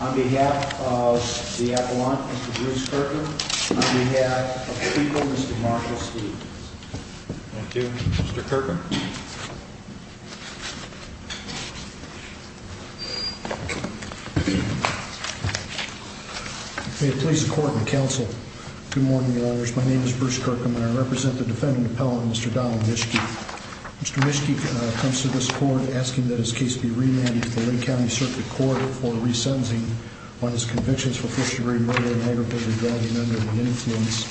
on behalf of the Avalon, Mr. Bruce Kirkland, on behalf of the people, Mr. Marshall Steele. Thank you, Mr. Kirkland. May it please the court and counsel. Good morning, lawyers. My name is Bruce Kirkland, and I represent the defendant appellant, Mr. Donald Mischke. Mr. Mischke comes to this court asking that his case be remanded to the Lake County Circuit Court for resentencing on his convictions for first-degree murder and aggravated driving under the influence.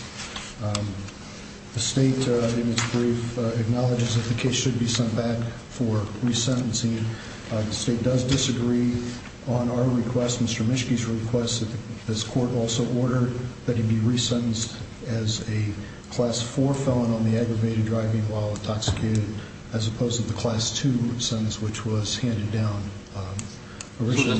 The state, in its brief, acknowledges that the case should be sent back for resentencing. The state does disagree on our request, Mr. Mischke's request, that this court also order that he be resentenced as a Class 4 felon on the aggravated driving while intoxicated, as opposed to the Class 2 sentence, which was handed down. Mr.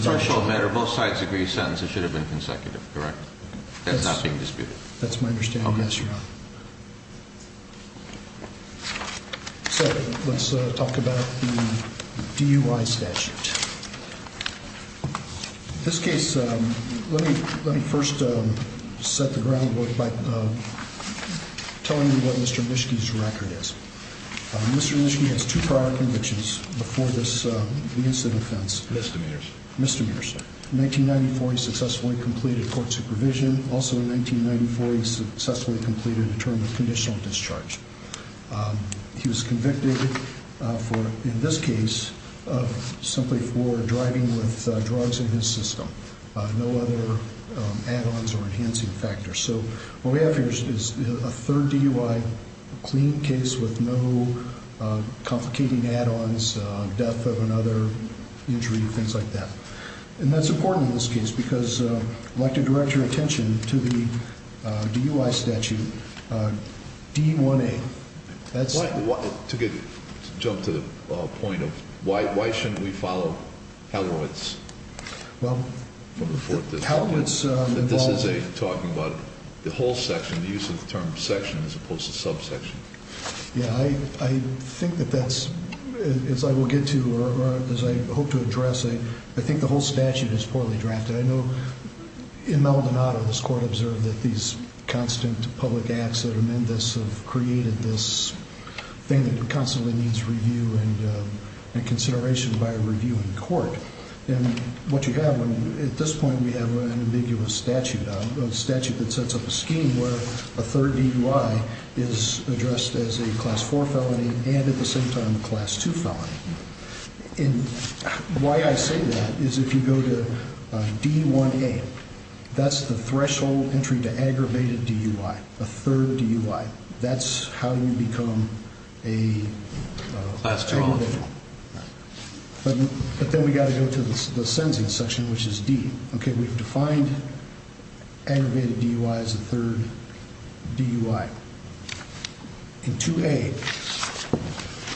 Mischke has two prior convictions before this incident. Mr. Mears. Mr. Mears. In 1994, he successfully completed court supervision. Also in 1994, he successfully completed a term of conditional discharge. He was convicted for, in this case, simply for driving with drugs in his system. No other add-ons or enhancing factors. So what we have here is a third DUI, a clean case with no complicating add-ons, death of another injury, things like that. And that's important in this case, because I'd like to direct your attention to the DUI statute, D1A. To jump to the point of why shouldn't we follow Halibut's? This is talking about the whole section, the use of the term section as opposed to subsection. Yeah, I think that that's, as I will get to, or as I hope to address, I think the whole statute is poorly drafted. I know in Maldonado, this court observed that these constant public acts that amend this have created this thing that constantly needs review and consideration by a review in court. And what you have, at this point, we have an ambiguous statute, a statute that sets up a scheme where a third DUI is addressed as a Class 4 felony and at the same time a Class 2 felony. And why I say that is if you go to D1A, that's the threshold entry to aggravated DUI, a third DUI. That's how you become an aggravated. But then we've got to go to the sentencing section, which is D. Okay, we've defined aggravated DUI as a third DUI. In 2A,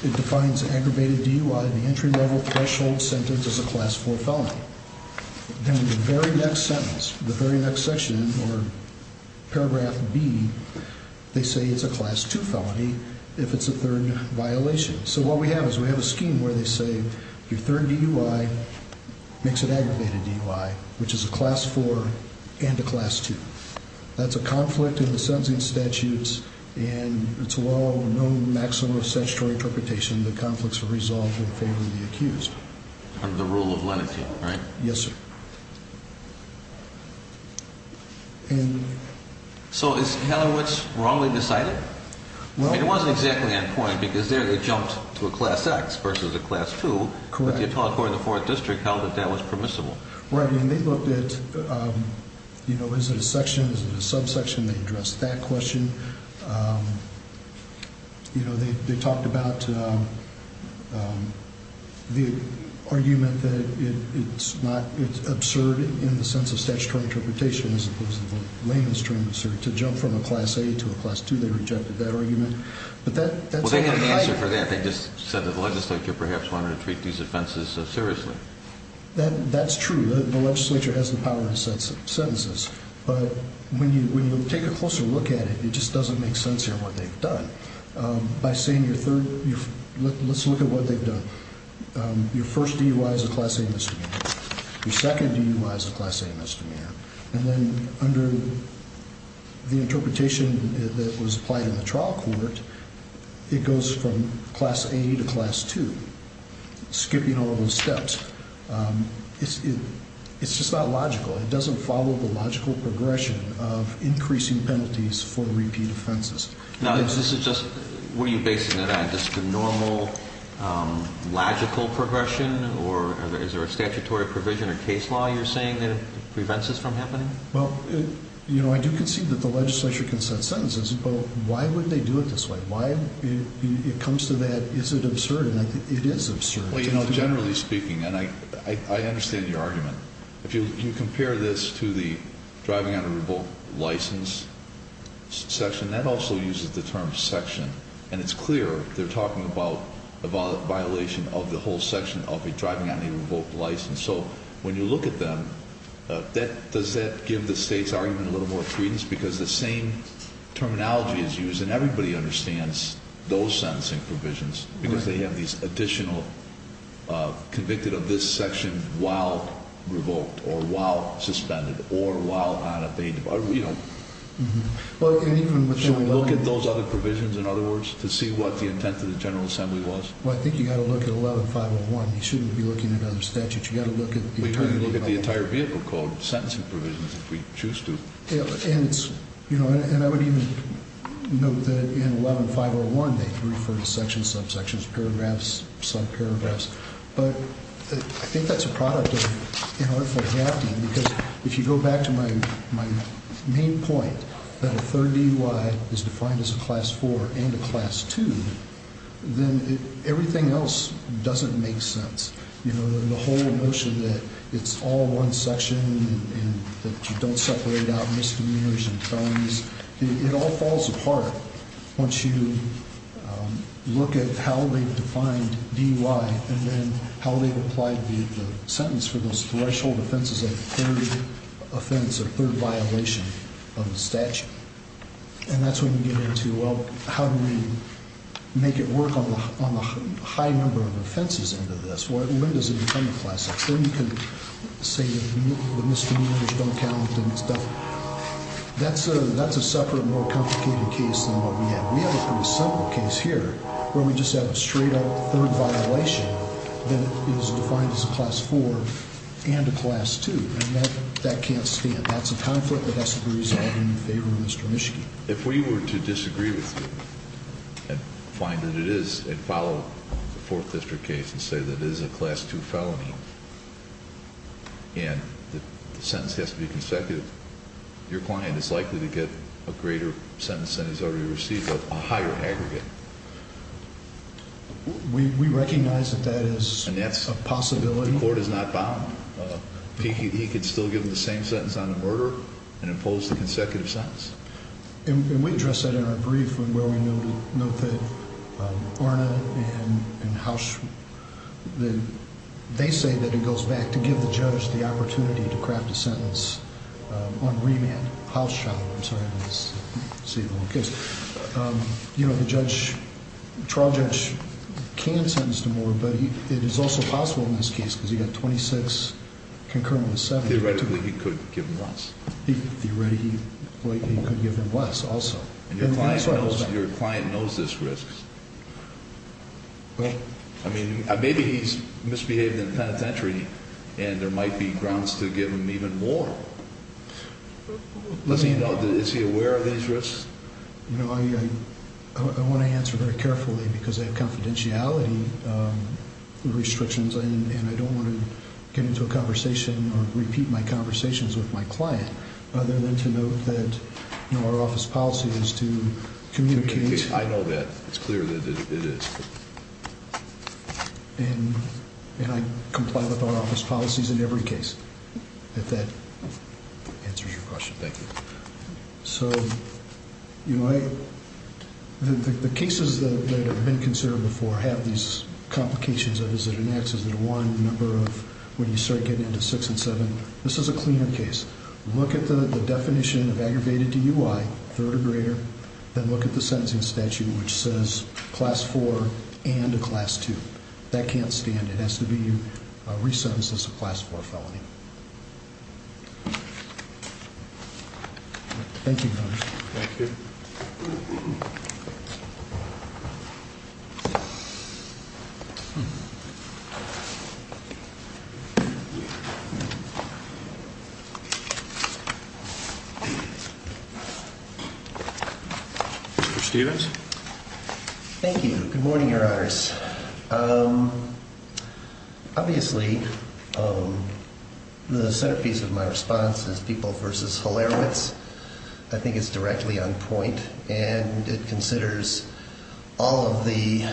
it defines aggravated DUI, the entry level threshold sentence, as a Class 4 felony. Then the very next sentence, the very next section, or paragraph B, they say it's a Class 2 felony if it's a third violation. So what we have is we have a scheme where they say your third DUI makes it aggravated DUI, which is a Class 4 and a Class 2. That's a conflict in the sentencing statutes, and it's a law of no maximum of statutory interpretation that conflicts are resolved in favor of the accused. Under the rule of lenity, right? Yes, sir. So is Helen Woods wrongly decided? It wasn't exactly on point because there they jumped to a Class X versus a Class 2. Correct. But the appellate court in the 4th District held that that was permissible. Right, and they looked at, you know, is it a section, is it a subsection? They addressed that question. You know, they talked about the argument that it's not, it's absurd in the sense of statutory interpretation as opposed to the leniency, to jump from a Class A to a Class 2. They rejected that argument. Well, they had an answer for that. They just said that the legislature perhaps wanted to treat these offenses so seriously. That's true. The legislature has the power to set sentences. But when you take a closer look at it, it just doesn't make sense here what they've done. By saying your third, let's look at what they've done. Your first DUI is a Class A misdemeanor. Your second DUI is a Class A misdemeanor. And then under the interpretation that was applied in the trial court, it goes from Class A to Class 2, skipping all those steps. It's just not logical. It doesn't follow the logical progression of increasing penalties for repeat offenses. Now, this is just, what are you basing it on? Just a normal, logical progression? Or is there a statutory provision or case law you're saying that prevents this from happening? Well, you know, I do concede that the legislature can set sentences, but why would they do it this way? Why, it comes to that, is it absurd? And I think it is absurd. Well, you know, generally speaking, and I understand your argument. If you compare this to the driving on a revoked license section, that also uses the term section. And it's clear they're talking about a violation of the whole section of a driving on a revoked license. So when you look at them, does that give the state's argument a little more credence? Because the same terminology is used, and everybody understands those sentencing provisions. Because they have these additional, convicted of this section while revoked, or while suspended, or while unabated. Should we look at those other provisions, in other words, to see what the intent of the General Assembly was? Well, I think you've got to look at 11-501. You shouldn't be looking at other statutes. You've got to look at the entire vehicle code, sentencing provisions, if we choose to. And I would even note that in 11-501, they refer to sections, subsections, paragraphs, subparagraphs. But I think that's a product of inarticulate drafting, because if you go back to my main point, that a third DUI is defined as a Class IV and a Class II, then everything else doesn't make sense. You know, the whole notion that it's all one section, and that you don't separate out misdemeanors and felonies, it all falls apart once you look at how they've defined DUI, and then how they've applied the sentence for those threshold offenses of a third offense, a third violation of the statute. And that's when you get into, well, how do we make it work on the high number of offenses end of this? When does it become a classic? So you can say that misdemeanors don't count and stuff. That's a separate, more complicated case than what we have. We have a pretty simple case here where we just have a straight-up third violation that is defined as a Class IV and a Class II. And that can't stand. That's a conflict that has to be resolved in favor of Mr. Mischke. If we were to disagree with you and find that it is, and follow the Fourth District case and say that it is a Class II felony and the sentence has to be consecutive, your client is likely to get a greater sentence than he's already received, but a higher aggregate. We recognize that that is a possibility. The court is not bound. He could still give the same sentence on a murder and impose the consecutive sentence. And we address that in our brief where we note that Orna and Housh, they say that it goes back to give the judge the opportunity to craft a sentence on remand. Housh, I'm sorry, let's save the whole case. You know, the trial judge can sentence to more, but it is also possible in this case because he got 26 concurrent with 70. Theoretically, he could give him less. Theoretically, he could give him less also. And your client knows this risk. I mean, maybe he's misbehaved in the penitentiary, and there might be grounds to give him even more. Let me know. Is he aware of these risks? You know, I want to answer very carefully because I have confidentiality restrictions, and I don't want to get into a conversation or repeat my conversations with my client other than to note that, you know, our office policy is to communicate. I know that. It's clear that it is. And I comply with our office policies in every case, if that answers your question. Thank you. So, you know, the cases that have been considered before have these complications of is it an X, is it a 1, the number of when you start getting into 6 and 7. This is a cleaner case. Look at the definition of aggravated DUI, third or greater, then look at the sentencing statute, which says class 4 and a class 2. That can't stand. It has to be resentenced as a class 4 felony. Thank you, Your Honor. Thank you. Mr. Stevens. Thank you. Good morning, Your Honors. Obviously, the centerpiece of my response is People v. Hilarowitz. I think it's directly on point, and it considers all of the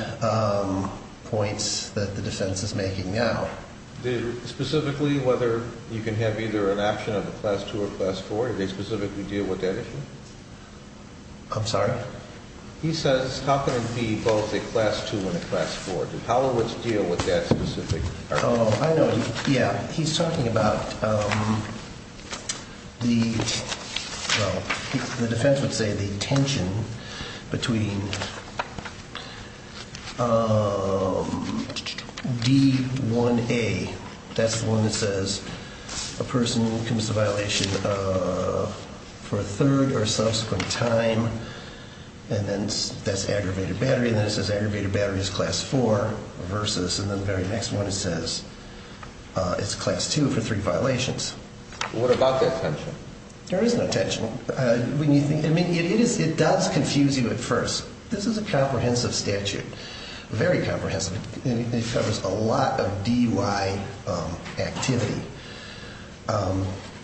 points that the defense is making now. Specifically, whether you can have either an option of a class 2 or a class 4? Do they specifically deal with that issue? I'm sorry? He says how can it be both a class 2 and a class 4? Does Hilarowitz deal with that specifically? Oh, I know. Yeah. He's talking about the defense would say the tension between D1A. That's the one that says a person commits a violation for a third or subsequent time, and then that's aggravated battery, and then it says aggravated battery is class 4 versus, and then the very next one it says it's class 2 for three violations. What about the attention? There is no attention. I mean, it does confuse you at first. This is a comprehensive statute, very comprehensive. It covers a lot of DUI activity.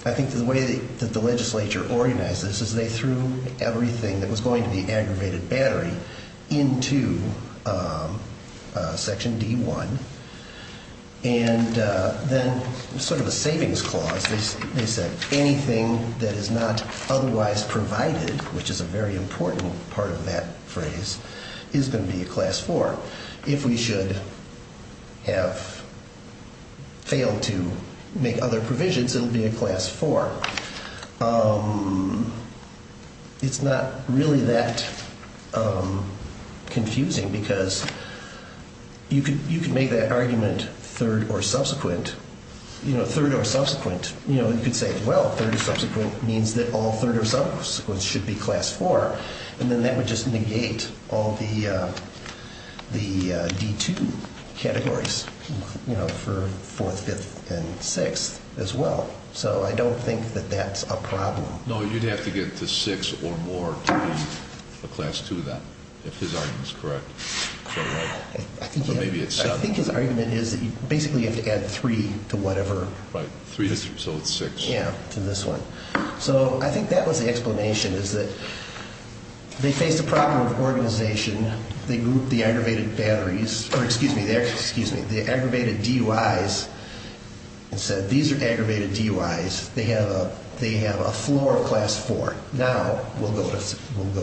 I think the way that the legislature organized this is they threw everything that was going to be aggravated battery into section D1, and then sort of a savings clause, they said anything that is not otherwise provided, which is a very important part of that phrase, is going to be a class 4. If we should have failed to make other provisions, it would be a class 4. It's not really that confusing because you could make that argument third or subsequent. You know, third or subsequent. You know, you could say, well, third or subsequent means that all third or subsequent should be class 4, and then that would just negate all the D2 categories, you know, for fourth, fifth, and sixth as well. So I don't think that that's a problem. No, you'd have to get to six or more to be a class 2 then, if his argument is correct. I think his argument is that basically you have to add three to whatever. Right, three, so it's six. Yeah, to this one. So I think that was the explanation is that they faced a problem with organization. They grouped the aggravated batteries or, excuse me, the aggravated DUIs and said these are aggravated DUIs. They have a floor of class 4. Now we'll go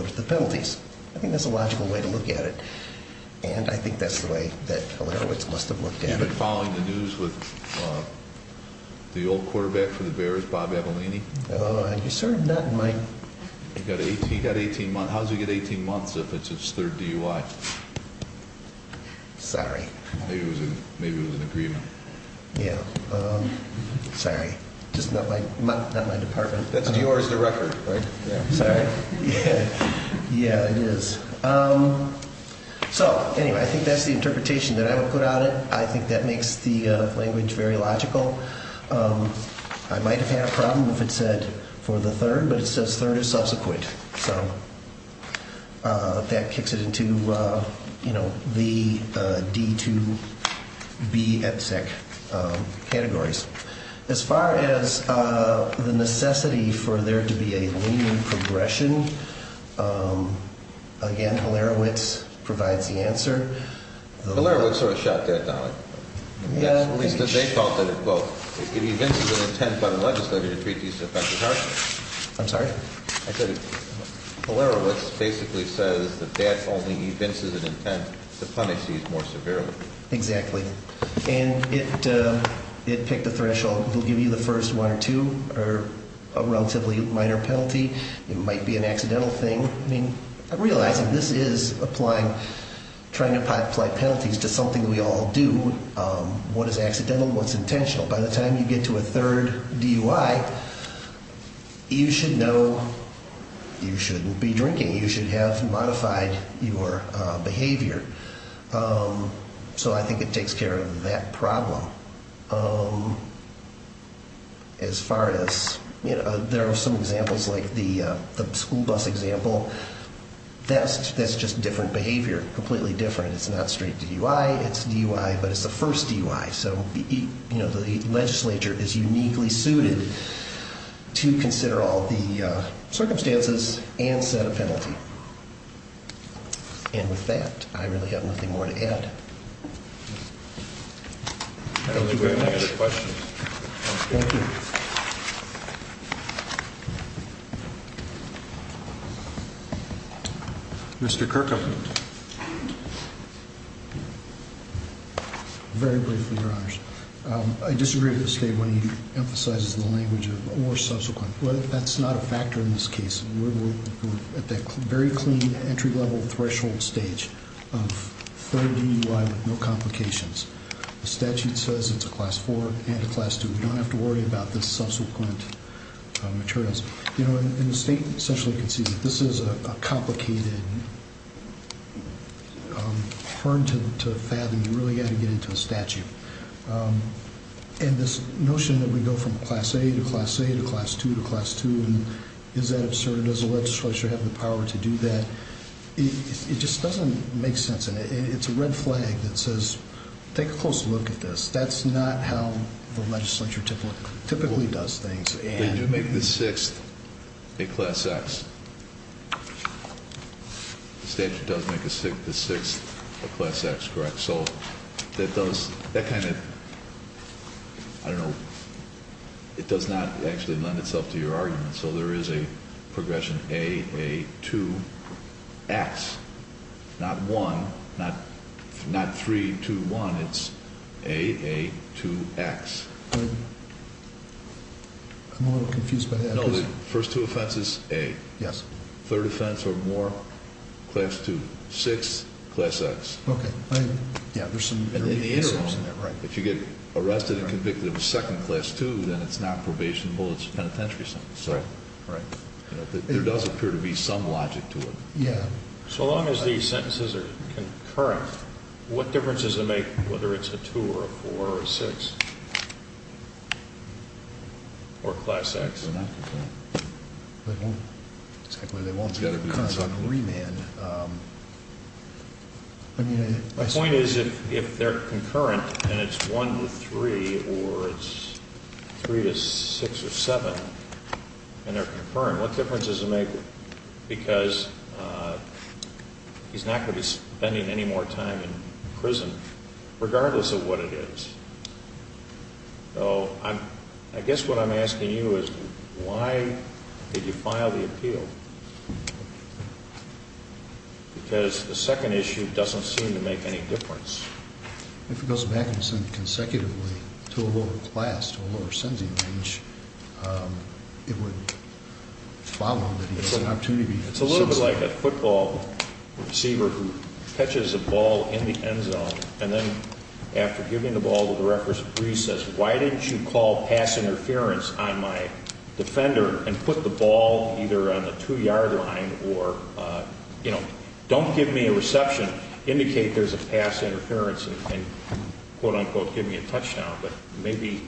to the penalties. I think that's a logical way to look at it, and I think that's the way that Hilarowitz must have looked at it. Have you been following the news with the old quarterback for the Bears, Bob Abilene? No, sir, not in my. He got 18 months. How does he get 18 months if it's his third DUI? Sorry. Maybe it was an agreement. Yeah, sorry, just not my department. That's yours, the record, right? Yeah, sorry. Yeah, it is. So anyway, I think that's the interpretation that I would put on it. I think that makes the language very logical. I might have had a problem if it said for the third, but it says third is subsequent. So that kicks it into, you know, the D to B EPC categories. As far as the necessity for there to be a lean progression, again, Hilarowitz provides the answer. Hilarowitz sort of shot that down. At least they felt that it, quote, it evinces an intent by the legislature to treat these offenses harshly. I'm sorry? I said Hilarowitz basically says that that only evinces an intent to punish these more severely. Exactly. And it picked a threshold. It will give you the first one or two or a relatively minor penalty. It might be an accidental thing. I mean, I'm realizing this is applying, trying to apply penalties to something we all do. What is accidental and what's intentional? By the time you get to a third DUI, you should know you shouldn't be drinking. You should have modified your behavior. So I think it takes care of that problem. As far as, you know, there are some examples like the school bus example. That's just different behavior, completely different. It's not straight DUI. It's DUI, but it's the first DUI. So, you know, the legislature is uniquely suited to consider all the circumstances and set a penalty. And with that, I really have nothing more to add. Thank you very much. Any other questions? Thank you. Mr. Kirkham. Very briefly, Your Honors. I disagree with the statement he emphasizes the language of or subsequent. That's not a factor in this case. We're at that very clean entry-level threshold stage of third DUI with no complications. The statute says it's a class four and a class two. We don't have to worry about the subsequent materials. You know, in the state, essentially, you can see that this is a complicated, hard to fathom. You really got to get into a statute. And this notion that we go from class A to class A to class two to class two, and is that absurd? Does the legislature have the power to do that? It just doesn't make sense. And it's a red flag that says take a close look at this. That's not how the legislature typically does things. They do make the sixth a class X. The statute does make the sixth a class X, correct? So that kind of, I don't know, it does not actually lend itself to your argument. So there is a progression A, A, two, X. Not one, not three, two, one. It's A, A, two, X. I'm a little confused by that. No, the first two offenses, A. Yes. Third offense or more, class two. Sixth, class X. And in the interim, if you get arrested and convicted of a second class two, then it's not probationable. It's a penitentiary sentence. So there does appear to be some logic to it. So long as these sentences are concurrent, what difference does it make whether it's a two or a four or a six? Or class X. They won't. Exactly, they won't. It's got to be concurrent. Because on the remand, I mean. My point is if they're concurrent and it's one to three or it's three to six or seven and they're concurrent, what difference does it make? Because he's not going to be spending any more time in prison regardless of what it is. So I guess what I'm asking you is why did you file the appeal? Because the second issue doesn't seem to make any difference. If it goes back and sent consecutively to a lower class, to a lower sentencing range, it would follow that he has an opportunity. It's a little bit like a football receiver who catches a ball in the end zone. And then after giving the ball with the reference of recess, why didn't you call pass interference on my defender and put the ball either on the two yard line or, you know, don't give me a reception, indicate there's a pass interference and quote unquote give me a touchdown. But maybe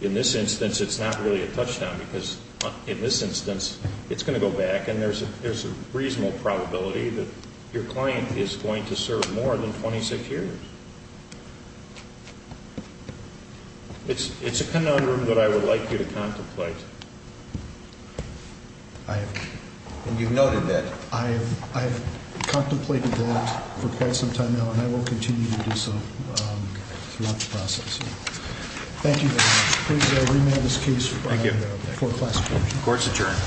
in this instance it's not really a touchdown because in this instance it's going to go back and there's a reasonable probability that your client is going to serve more than 26 years. It's a conundrum that I would like you to contemplate. And you've noted that. I have contemplated that for quite some time now and I will continue to do so throughout the process. Thank you very much. Please remand this case for classification. Court's adjourned.